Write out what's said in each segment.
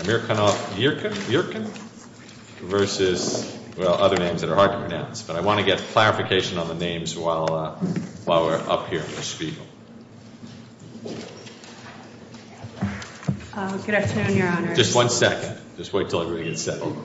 Amirkanov Yerkyn versus, well, other names that are hard to pronounce, but I want to get clarification on the names while we're up here in the spiegel. Good afternoon, Your Honor. Just one second. Just wait until everybody gets settled.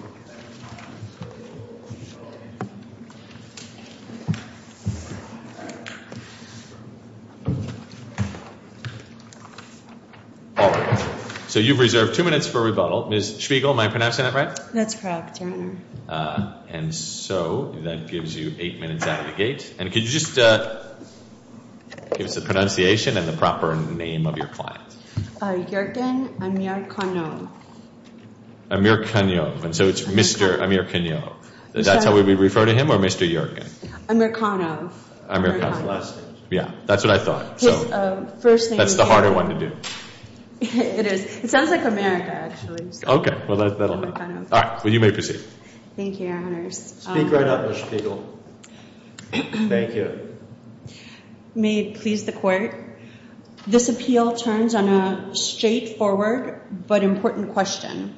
All right. So you've reserved two minutes for rebuttal. Ms. Spiegel, am I pronouncing that right? That's correct, Your Honor. And so that gives you eight minutes out of the gate. And could you just give us the pronunciation and the proper name of your client? Yerkyn Amirkanov. Amirkanov. And so it's Mr. Amirkanov. That's how we refer to him, or Mr. Yerkyn? Amirkanov. Amirkanov. Yeah, that's what I thought. So that's the harder one to do. It is. It sounds like America, actually. Okay. Well, that'll do. All right. Well, you may proceed. Thank you, Your Honors. Speak right up, Ms. Spiegel. Thank you. May it please the Court. This appeal turns on a straightforward but important question.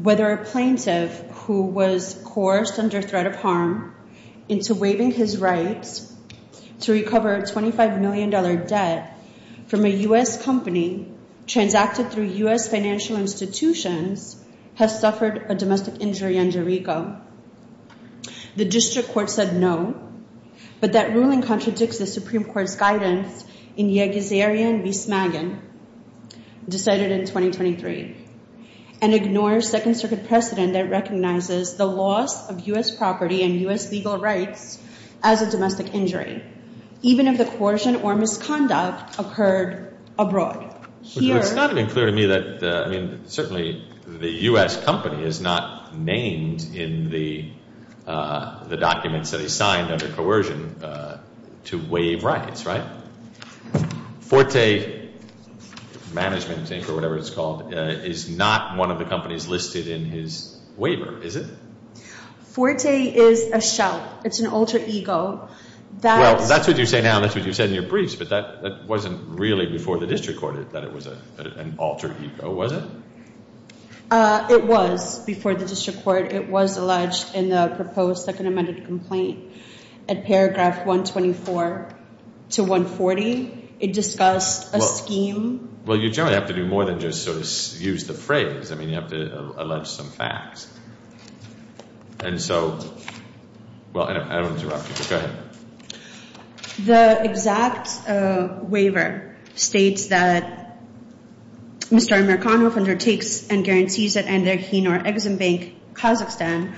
Whether a plaintiff who was coerced under threat of harm into waiving his rights to recover a $25 million debt from a U.S. company transacted through U.S. financial institutions has suffered a domestic injury under RICO. The District Court said no, but that ruling contradicts the Supreme Court's guidance in Yegezerian v. Smagen, decided in 2023, and ignores Second Circuit precedent that recognizes the loss of U.S. property and U.S. legal rights as a domestic injury, even if the coercion or misconduct occurred abroad. It's not even clear to me that, I mean, certainly the U.S. company is not named in the documents that he signed under coercion to waive rights, right? Forte Management, I think, or whatever it's called, is not one of the companies listed in his waiver, is it? Forte is a shell. It's an alter ego. Well, that's what you say now, that's what you said in your briefs, but that wasn't really before the District Court that it was an alter ego, was it? It was. Before the District Court, it was alleged in the proposed Second Amended Complaint at paragraph 124 to 140. It discussed a scheme. Well, you generally have to do more than just sort of use the phrase. I mean, you have to allege some facts. And so, well, I don't want to interrupt you, but go ahead. The exact waiver states that Mr. Amerikanoff undertakes and guarantees that neither he nor Ex-Im Bank Kazakhstan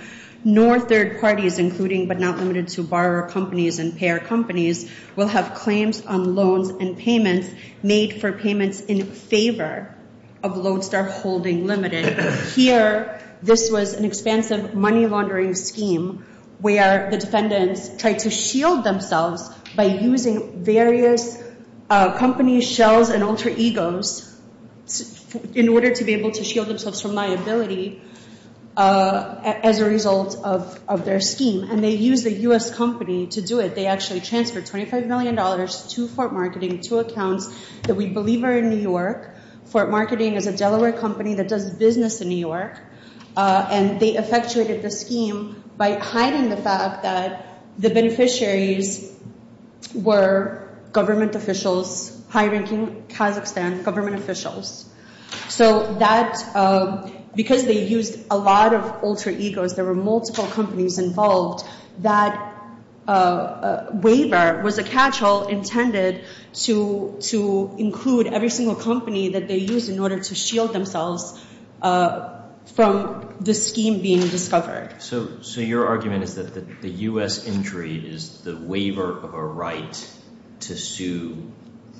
nor third parties, including but not limited to borrower companies and payer companies, will have claims on loans and payments made for payments in favor of Lodestar Holding Limited. Here, this was an expansive money laundering scheme where the defendants tried to shield themselves by using various companies, shells, and alter egos in order to be able to shield themselves from liability as a result of their scheme. And they used a U.S. company to do it. They actually transferred $25 million to Forte Marketing, to accounts that we believe are in New York. Forte Marketing is a Delaware company that does business in New York, and they effectuated the scheme by hiding the fact that the beneficiaries were government officials, high-ranking Kazakhstan government officials. So that, because they used a lot of alter egos, there were multiple companies involved, that waiver was a catch-all intended to include every single company that they used in order to shield themselves from the scheme being discovered. So your argument is that the U.S. injury is the waiver of a right to sue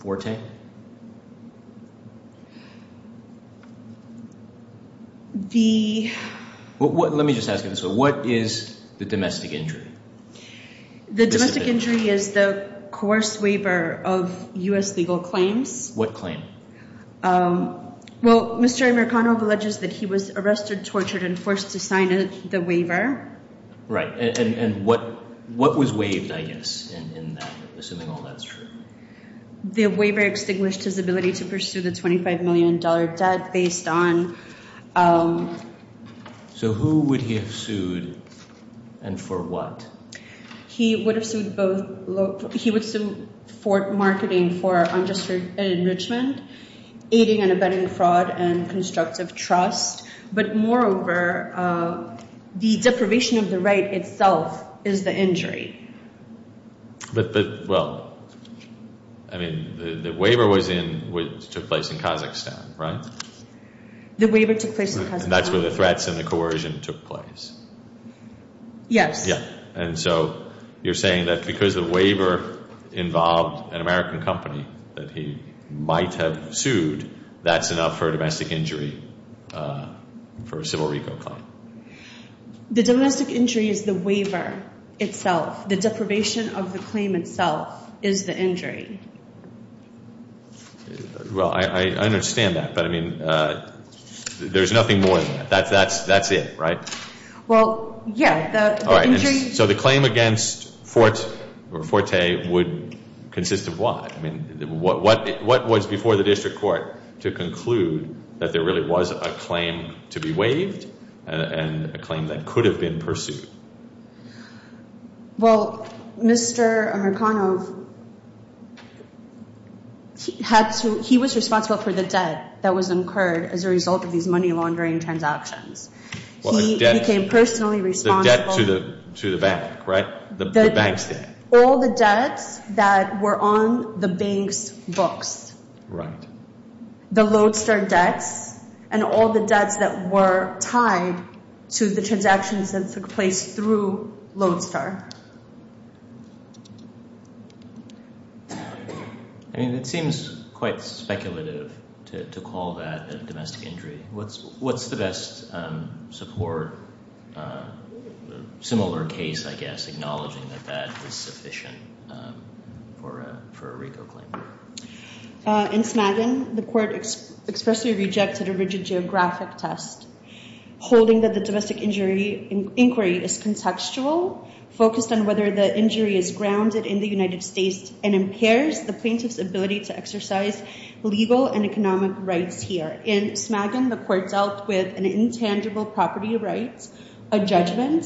Forte? Let me just ask you this, what is the domestic injury? The domestic injury is the coerced waiver of U.S. legal claims. What claim? Well, Mr. Amirkanov alleges that he was arrested, tortured, and forced to sign the waiver. And what was waived, I guess, in that, assuming all that's true? The waiver extinguished his ability to pursue the $25 million debt based on... So who would he have sued, and for what? He would have sued both... He would sue Forte Marketing for unjustified enrichment, aiding and abetting fraud, and constructive trust. But moreover, the deprivation of the right itself is the injury. But, well, I mean, the waiver was in, which took place in Kazakhstan, right? The waiver took place in Kazakhstan. And that's where the threats and the coercion took place? Yes. Yeah. And so you're saying that because the waiver involved an American company that he might have sued, that's enough for a domestic injury for a civil reco claim? The domestic injury is the waiver itself. The deprivation of the claim itself is the injury. Well, I understand that, but, I mean, there's nothing more than that. That's it, right? Well, yeah. The injury... So the claim against Forte would consist of what? I mean, what was before the district court to conclude that there really was a claim to be waived and a claim that could have been pursued? Well, Mr. Amirkanov, he was responsible for the debt that was incurred as a result of these money laundering transactions. He became personally responsible... The debt to the bank, right? The bank's debt. All the debts that were on the bank's books. Right. The Lodestar debts, and all the debts that were tied to the transactions that took place through Lodestar. I mean, it seems quite speculative to call that a domestic injury. What's the best support, similar case, I guess, acknowledging that that is sufficient for a reco claim? In Smaggen, the court expressly rejected a rigid geographic test, holding that the domestic injury inquiry is contextual, focused on whether the injury is grounded in the United States and impairs the plaintiff's ability to exercise legal and economic rights here. In Smaggen, the court dealt with an intangible property rights, a judgment.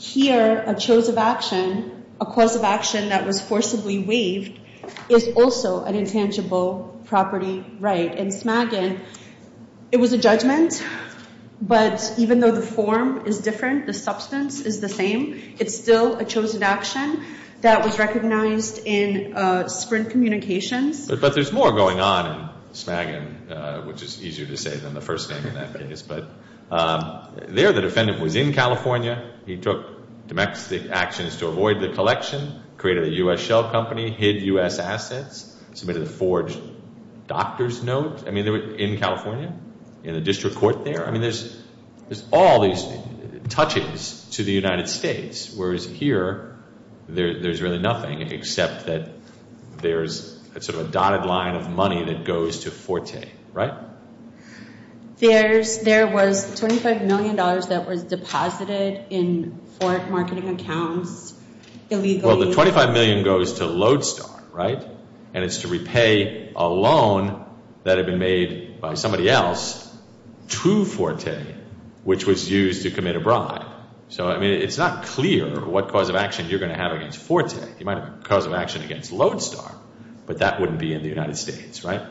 Here, a choice of action, a course of action that was forcibly waived, is also an intangible property right. In Smaggen, it was a judgment, but even though the form is different, the substance is the same. It's still a chosen action that was recognized in Sprint Communications. But there's more going on in Smaggen, which is easier to say than the first name in that case. But there, the defendant was in California. He took domestic actions to avoid the collection, created a U.S. shell company, hid U.S. assets, submitted a forged doctor's note, I mean, in California, in the district court there. I mean, there's all these touches to the United States, whereas here, there's really nothing except that there's sort of a dotted line of money that goes to Forte, right? There's, there was $25 million that was deposited in Forte marketing accounts illegally. Well, the $25 million goes to Lodestar, right? And it's to repay a loan that had been made by somebody else to Forte, which was used to commit a bribe. So, I mean, it's not clear what cause of action you're going to have against Forte. You might have a cause of action against Lodestar, but that wouldn't be in the United States, right?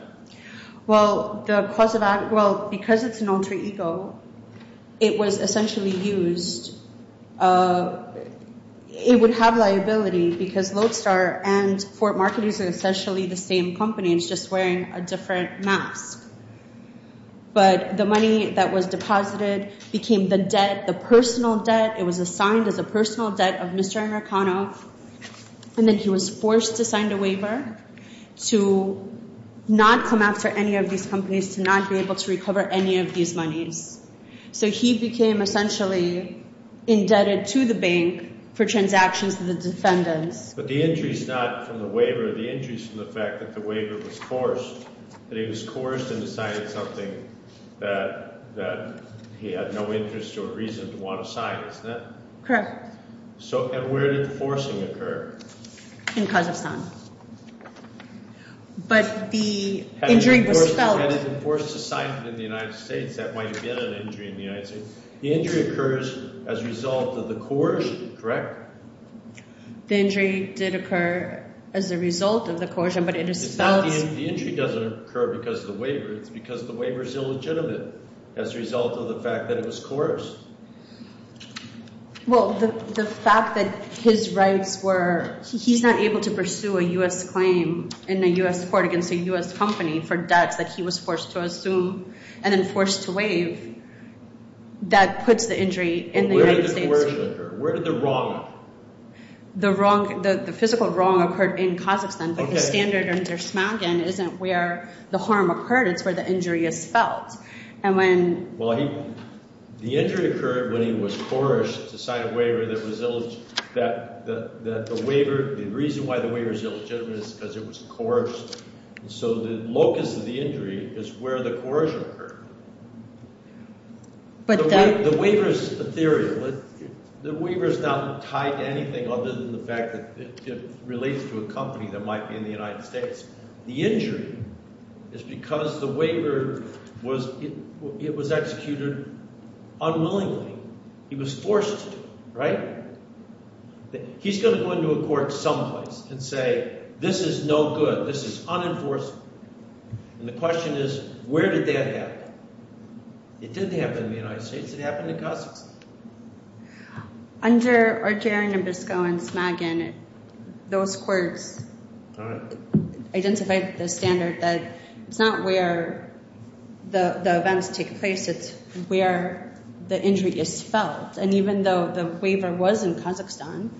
Well, the cause of action, well, because it's an alter ego, it was essentially used, it would have liability because Lodestar and Forte marketing is essentially the same company. It's just wearing a different mask. But the money that was deposited became the debt, the personal debt. It was assigned as a personal debt of Mr. Anarkanoff, and then he was forced to sign a waiver to not come after any of these companies, to not be able to recover any of these monies. So he became essentially indebted to the bank for transactions to the defendants. But the injuries not from the waiver, the injuries from the fact that the waiver was forced, that he was forced and decided something that he had no interest or reason to want to sign, isn't it? Correct. So, and where did the forcing occur? In Kazakhstan. But the injury was felt- Had it been forced to sign it in the United States, that might have been an injury in the United States. The injury occurs as a result of the coercion, correct? The injury did occur as a result of the coercion, but it is felt- It's not the injury doesn't occur because of the waiver, it's because the waiver's illegitimate as a result of the fact that it was coerced. Well, the fact that his rights were, he's not able to pursue a U.S. claim in a U.S. court against a U.S. company for debts that he was forced to assume and then forced to waive, that puts the injury in the United States. But where did the coercion occur? Where did the wrong occur? The wrong, the physical wrong occurred in Kazakhstan, but the standard in Dershmantgen isn't where the harm occurred, it's where the injury is felt. And when- Well, the injury occurred when he was coerced to sign a waiver that was, that the waiver, the reason why the waiver's illegitimate is because it was coerced. So the locus of the injury is where the coercion occurred. But the- The waiver's ethereal. The waiver's not tied to anything other than the fact that it relates to a company that might be in the United States. The injury is because the waiver was, it was executed unwillingly. He was forced to, right? He's going to go into a court someplace and say, this is no good, this is unenforceable. And the question is, where did that happen? It didn't happen in the United States, it happened in Kazakhstan. Under Arger and Nabisco and Smagin, those courts- All right. Identified the standard that it's not where the events take place, it's where the injury is felt. And even though the waiver was in Kazakhstan,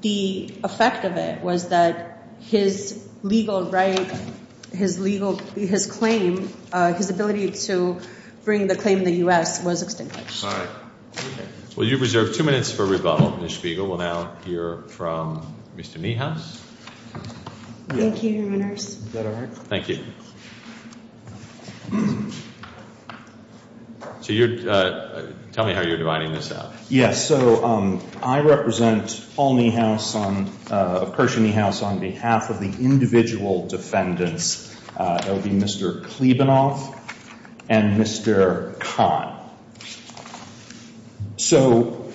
the effect of it was that his legal right, his legal, his claim, his ability to bring the claim to the U.S. was extinguished. Sorry. Well, you've reserved two minutes for rebuttal, Ms. Spiegel. We'll now hear from Mr. Niehaus. Thank you, Your Honors. Is that all right? Thank you. So you're, tell me how you're dividing this out. Yes, so I represent Paul Niehaus on, of Kershaw Niehaus, on behalf of the individual defendants. That would be Mr. Klebenoff and Mr. Kahn. So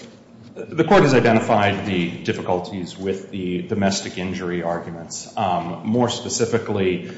the court has identified the difficulties with the domestic injury arguments. More specifically,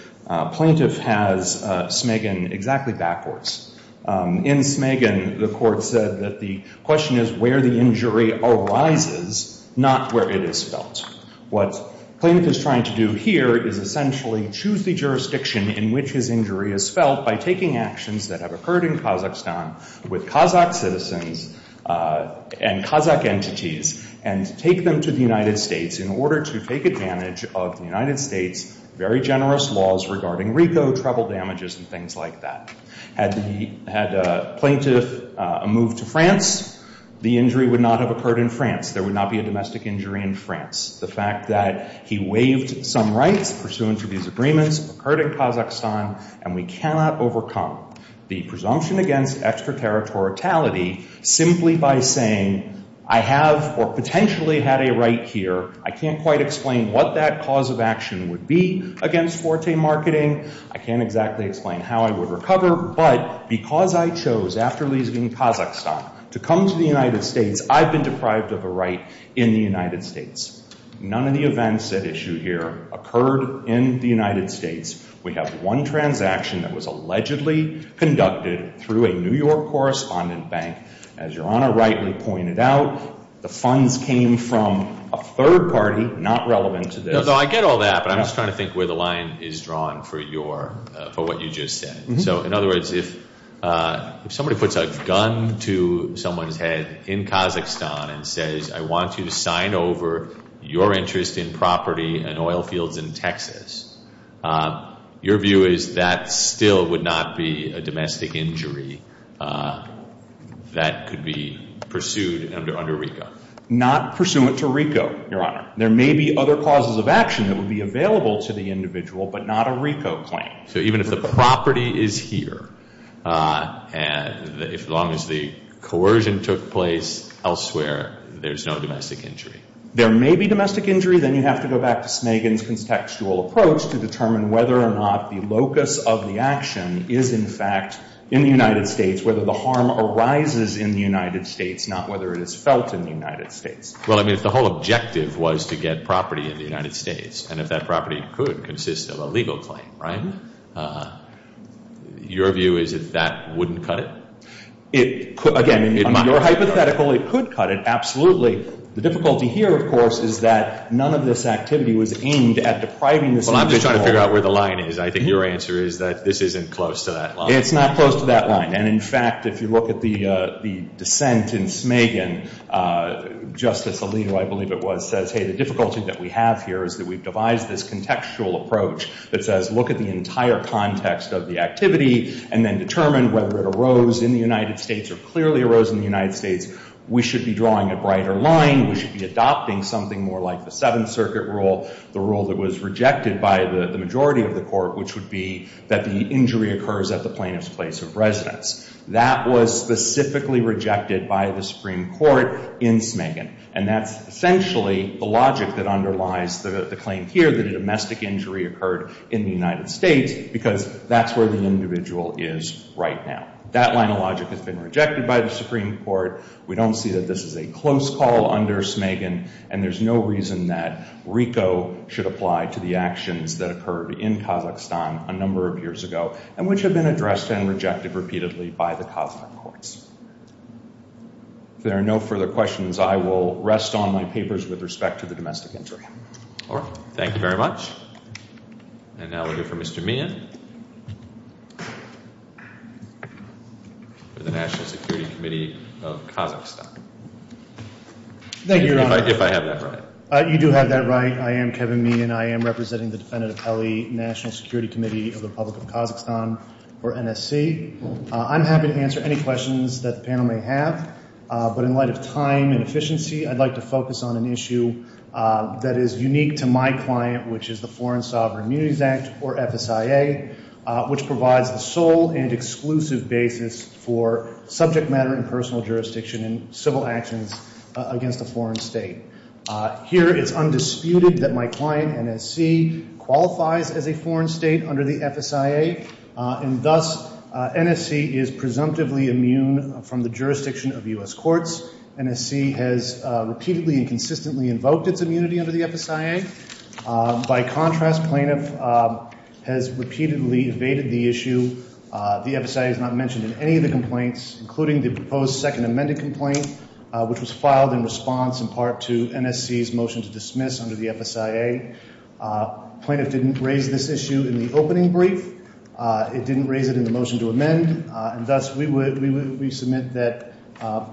plaintiff has Smagin exactly backwards. In Smagin, the court said that the question is where the injury arises, not where it is felt. What plaintiff is trying to do here is essentially choose the jurisdiction in which his injury is felt by taking actions that have occurred in Kazakhstan with Kazakh citizens and Kazakh entities and take them to the United States in order to take advantage of the United States' very generous laws regarding RICO, travel damages, and things like that. Had the, had plaintiff moved to France, the injury would not have occurred in France. There would not be a domestic injury in France. The fact that he waived some rights pursuant to these agreements occurred in Kazakhstan and we cannot overcome the presumption against extraterritoriality simply by saying I have or potentially had a right here. I can't quite explain what that cause of action would be against forte marketing. I can't exactly explain how I would recover. But because I chose after leaving Kazakhstan to come to the United States, I've been deprived of a right in the United States. None of the events at issue here occurred in the United States. We have one transaction that was allegedly conducted through a New York correspondent bank. As Your Honor rightly pointed out, the funds came from a third party not relevant to this. I get all that, but I'm just trying to think where the line is drawn for your, for what you just said. So in other words, if somebody puts a gun to someone's head in Kazakhstan and says I want you to sign over your interest in property and oil fields in Texas, your view is that still would not be a domestic injury that could be pursued under RICO? Not pursuant to RICO, Your Honor. There may be other causes of action that would be available to the individual, but not a RICO claim. So even if the property is here, as long as the coercion took place elsewhere, there's no domestic injury? There may be domestic injury. Then you have to go back to Snagan's contextual approach to determine whether or not the locus of the action is in fact in the United States, whether the harm arises in the United States, not whether it is felt in the United States. Well, I mean, if the whole objective was to get property in the United States and if that property could consist of a legal claim, right, your view is that that wouldn't cut it? Again, in your hypothetical, it could cut it, absolutely. The difficulty here, of course, is that none of this activity was aimed at depriving this individual. Well, I'm just trying to figure out where the line is. I think your answer is that this isn't close to that line. It's not close to that line. And in fact, if you look at the dissent in Snagan, Justice Alito, I believe it was, says, hey, the difficulty that we have here is that we've devised this contextual approach that says look at the entire context of the activity and then determine whether it arose in the United States or clearly arose in the United States. We should be drawing a brighter line. We should be adopting something more like the Seventh Circuit rule, the rule that was rejected by the majority of the court, which would be that the injury occurs at the plaintiff's place of residence. That was specifically rejected by the Supreme Court in Snagan. And that's essentially the logic that underlies the claim here that a domestic injury occurred in the United States because that's where the individual is right now. That line of logic has been rejected by the Supreme Court. We don't see that this is a close call under Snagan and there's no reason that RICO should apply to the actions that occurred in Kazakhstan a number of years ago and which have been addressed and rejected repeatedly by the Kazakh courts. If there are no further questions, I will rest on my papers with respect to the domestic injury. Thank you very much. And now we'll hear from Mr. Meehan. For the National Security Committee of Kazakhstan. Thank you, Your Honor. If I have that right. You do have that right. I am Kevin Meehan. I am representing the Defendant of LA National Security Committee of the Republic of Kazakhstan, or NSC. I'm happy to answer any questions that the panel may have. But in light of time and efficiency, I'd like to focus on an issue that is unique to my client, which is the Foreign Sovereign Immunities Act, or FSIA, which provides the sole and exclusive basis for subject matter and personal jurisdiction in civil actions against a foreign state. Here it's undisputed that my client, NSC, qualifies as a foreign state under the FSIA, and thus NSC is presumptively immune from the jurisdiction of U.S. courts. NSC has repeatedly and consistently invoked its immunity under the FSIA. By contrast, plaintiff has repeatedly evaded the issue. The FSIA is not mentioned in any of the complaints, including the proposed second amended complaint, which was filed in response, in part, to NSC's motion to dismiss under the FSIA. Plaintiff didn't raise this issue in the opening brief. It didn't raise it in the motion to amend, and thus we submit that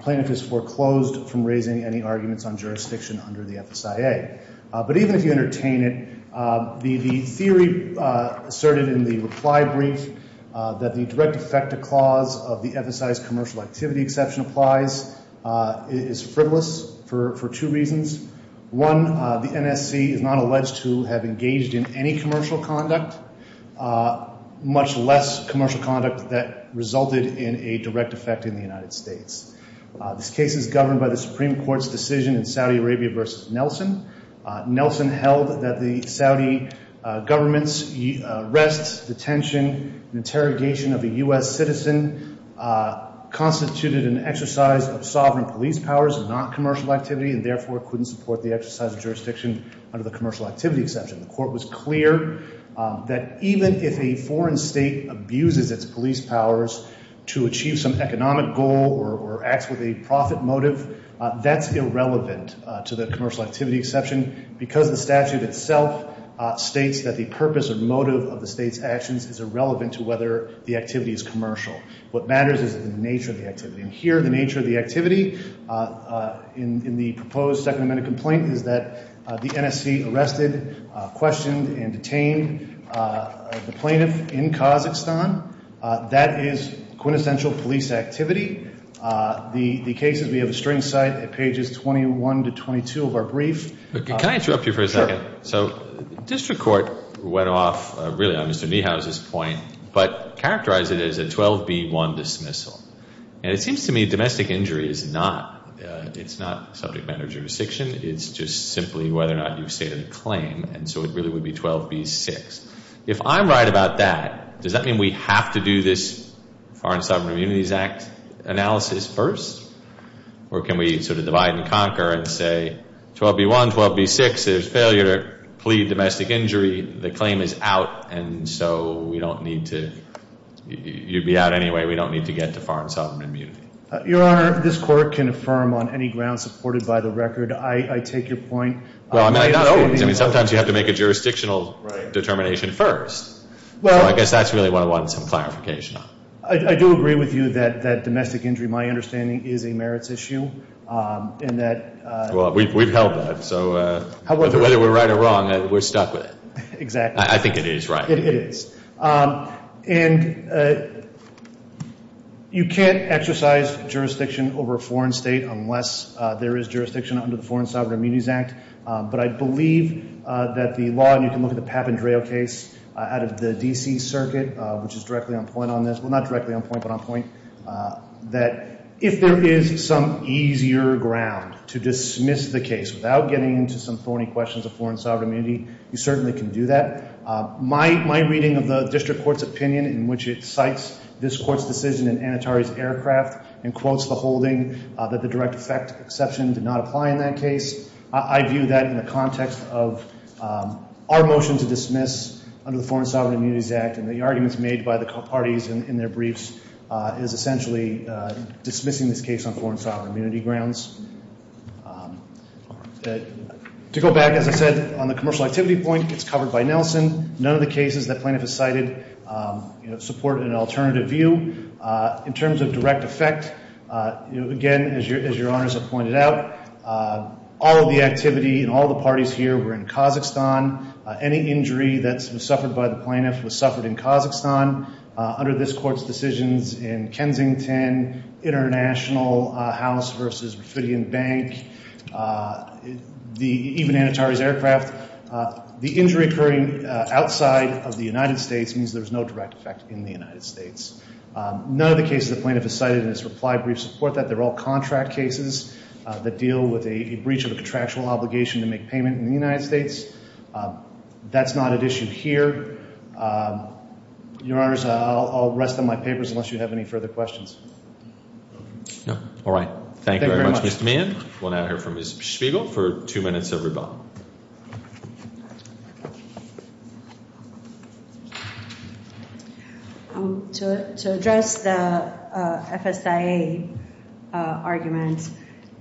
plaintiff has foreclosed from raising any arguments on jurisdiction under the FSIA. But even if you entertain it, the theory asserted in the reply brief that the direct effect of clause of the FSIA's commercial activity exception applies is frivolous for two reasons. One, the NSC is not alleged to have engaged in any commercial conduct, much less commercial conduct that resulted in a direct effect in the United States. This case is governed by the Supreme Court's decision in Saudi Arabia v. Nelson. Nelson held that the Saudi government's arrest, detention, and interrogation of a U.S. citizen constituted an exercise of sovereign police powers and not commercial activity, and therefore couldn't support the exercise of jurisdiction under the commercial activity exception. The court was clear that even if a foreign state abuses its police powers to achieve some economic goal or acts with a profit motive, that's irrelevant to the commercial activity exception because the statute itself states that the purpose or motive of the state's actions is irrelevant to whether the activity is commercial. What matters is the nature of the activity. And here the nature of the activity in the proposed Second Amendment complaint is that the NSC arrested, questioned, and detained the plaintiff in Kazakhstan. That is quintessential police activity. The cases, we have a string cite at pages 21 to 22 of our brief. Can I interrupt you for a second? So district court went off really on Mr. Niehaus' point but characterized it as a 12B1 dismissal. And it seems to me domestic injury is not, it's not subject matter of jurisdiction, it's just simply whether or not you've stated a claim, and so it really would be 12B6. If I'm right about that, does that mean we have to do this Foreign Sovereign Immunities Act analysis first? Or can we sort of divide and conquer and say 12B1, 12B6, there's failure to plead domestic injury, the claim is out, and so we don't need to, you'd be out anyway, we don't need to get to Foreign Sovereign Immunity. Your Honor, this court can affirm on any ground supported by the record. I take your point. Well, sometimes you have to make a jurisdictional determination first. So I guess that's really what I wanted some clarification on. I do agree with you that domestic injury, my understanding, is a merits issue. We've held that. So whether we're right or wrong, we're stuck with it. Exactly. I think it is right. It is. And you can't exercise jurisdiction over a foreign state unless there is jurisdiction under the Foreign Sovereign Immunities Act. But I believe that the law, and you can look at the Papandreou case out of the D.C. Circuit, which is directly on point on this, well, not directly on point, but on point, that if there is some easier ground to dismiss the case without getting into some thorny questions of Foreign Sovereign Immunity, you certainly can do that. My reading of the district court's opinion in which it cites this court's decision in Anatari's aircraft and quotes the holding that the direct effect exception did not apply in that case, I view that in the context of our motion to dismiss under the Foreign Sovereign Immunities Act and the arguments made by the parties in their briefs is essentially dismissing this case on Foreign Sovereign Immunity grounds. To go back, as I said, on the commercial activity point, it's covered by Nelson. None of the cases that plaintiff has cited support an alternative view. In terms of direct effect, again, as your honors have pointed out, all of the activity and all of the parties here were in Kazakhstan. Any injury that was suffered by the plaintiff was suffered in Kazakhstan. Under this court's decisions in Kensington, International, House versus Rafidian Bank, even Anatari's aircraft, the injury occurring outside of the United States means there's no direct effect in the United States. None of the cases the plaintiff has cited in this reply brief support that. They're all contract cases that deal with a breach of a contractual obligation to make payment in the United States. That's not at issue here. Your honors, I'll rest on my papers unless you have any further questions. Thank you very much. We'll now hear from Ms. Spiegel for two minutes of rebuttal. To address the FSIA argument,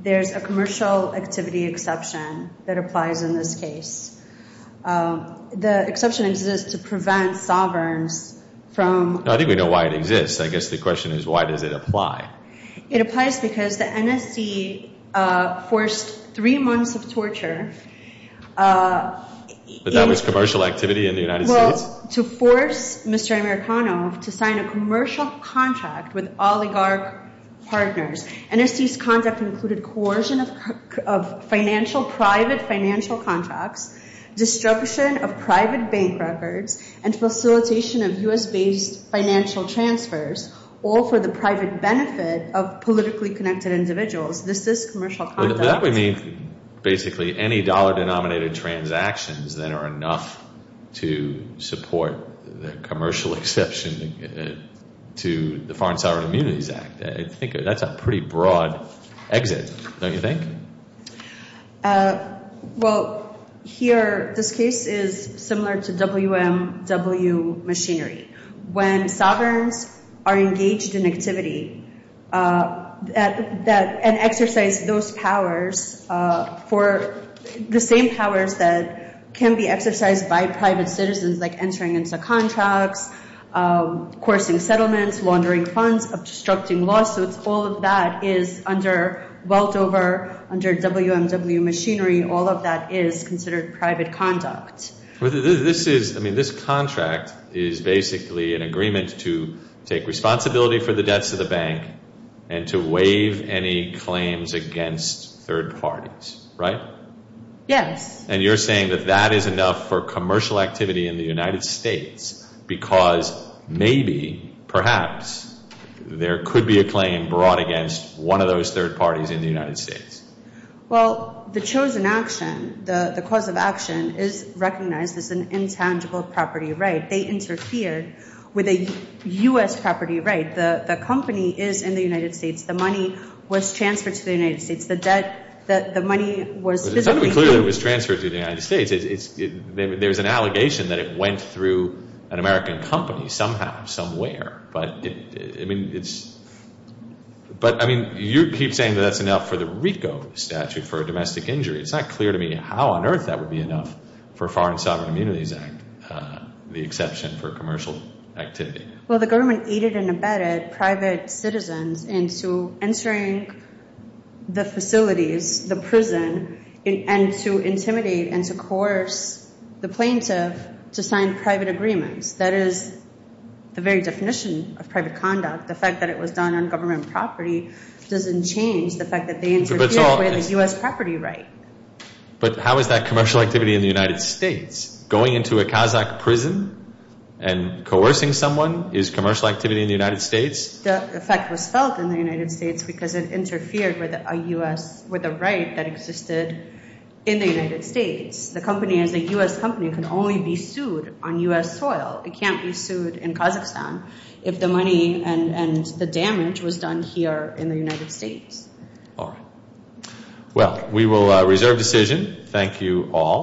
there's a commercial activity exception that applies in this case. The exception exists to prevent sovereigns from... I don't even know why it exists. I guess the question is, why does it apply? It applies because the NSC forced three months of torture in order to But that was commercial activity in the United States? Well, to force Mr. Amerikano to sign a commercial contract with oligarch partners. NSC's conduct included coercion of private financial contracts, destruction of private bank records, and facilitation of U.S.-based financial transfers all for the private benefit of politically connected individuals. This is commercial conduct. That would mean, basically, any dollar-denominated transactions that are enough to support the commercial exception to the Foreign Sovereign Immunities Act. That's a pretty broad exit, don't you think? Well, here, this case is similar to WMW machinery. When sovereigns are engaged in activity and exercise those powers for the same powers that can be exercised by private citizens, like entering into contracts, coercing settlements, laundering funds, obstructing lawsuits, all of that is, under Weldover, under WMW machinery, all of that is considered private conduct. This contract is basically an agreement to take responsibility for the debts of the bank and to waive any claims against third parties. Right? Yes. And you're saying that that is enough for commercial activity in the United States because, maybe, perhaps, there could be a claim brought against one of those third parties in the United States. Well, the chosen action, the cause of action, is recognized as an intangible property right. They interfere with a U.S. property right. The company is in the United States. The money was transferred to the United States. The debt, the money was... It's not clear that it was transferred to the United States. There's an allegation that it went through an American company, somehow, somewhere, but it's... You keep saying that that's enough for the RICO statute for a domestic injury. It's not clear to me how on earth that would be enough for Foreign Sovereign Immunities Act, the exception for commercial activity. Well, the government aided and abetted private citizens into entering the facilities, the prison, and to intimidate and to coerce the plaintiff to sign private agreements. That is the very definition of private conduct. The fact that it was done on government property doesn't change the fact that they interfere with a U.S. property right. But how is that commercial activity in the United States? Going into a Kazakh prison and coercing someone is commercial activity in the United States? The effect was felt in the United States because it interfered with a U.S., with a right that existed in the United States. The company is a U.S. company. It can only be sued on U.S. soil. It can't be sued in Kazakhstan if the money and the damage was done here in the United States. Alright. Well, we will reserve decision. Thank you all.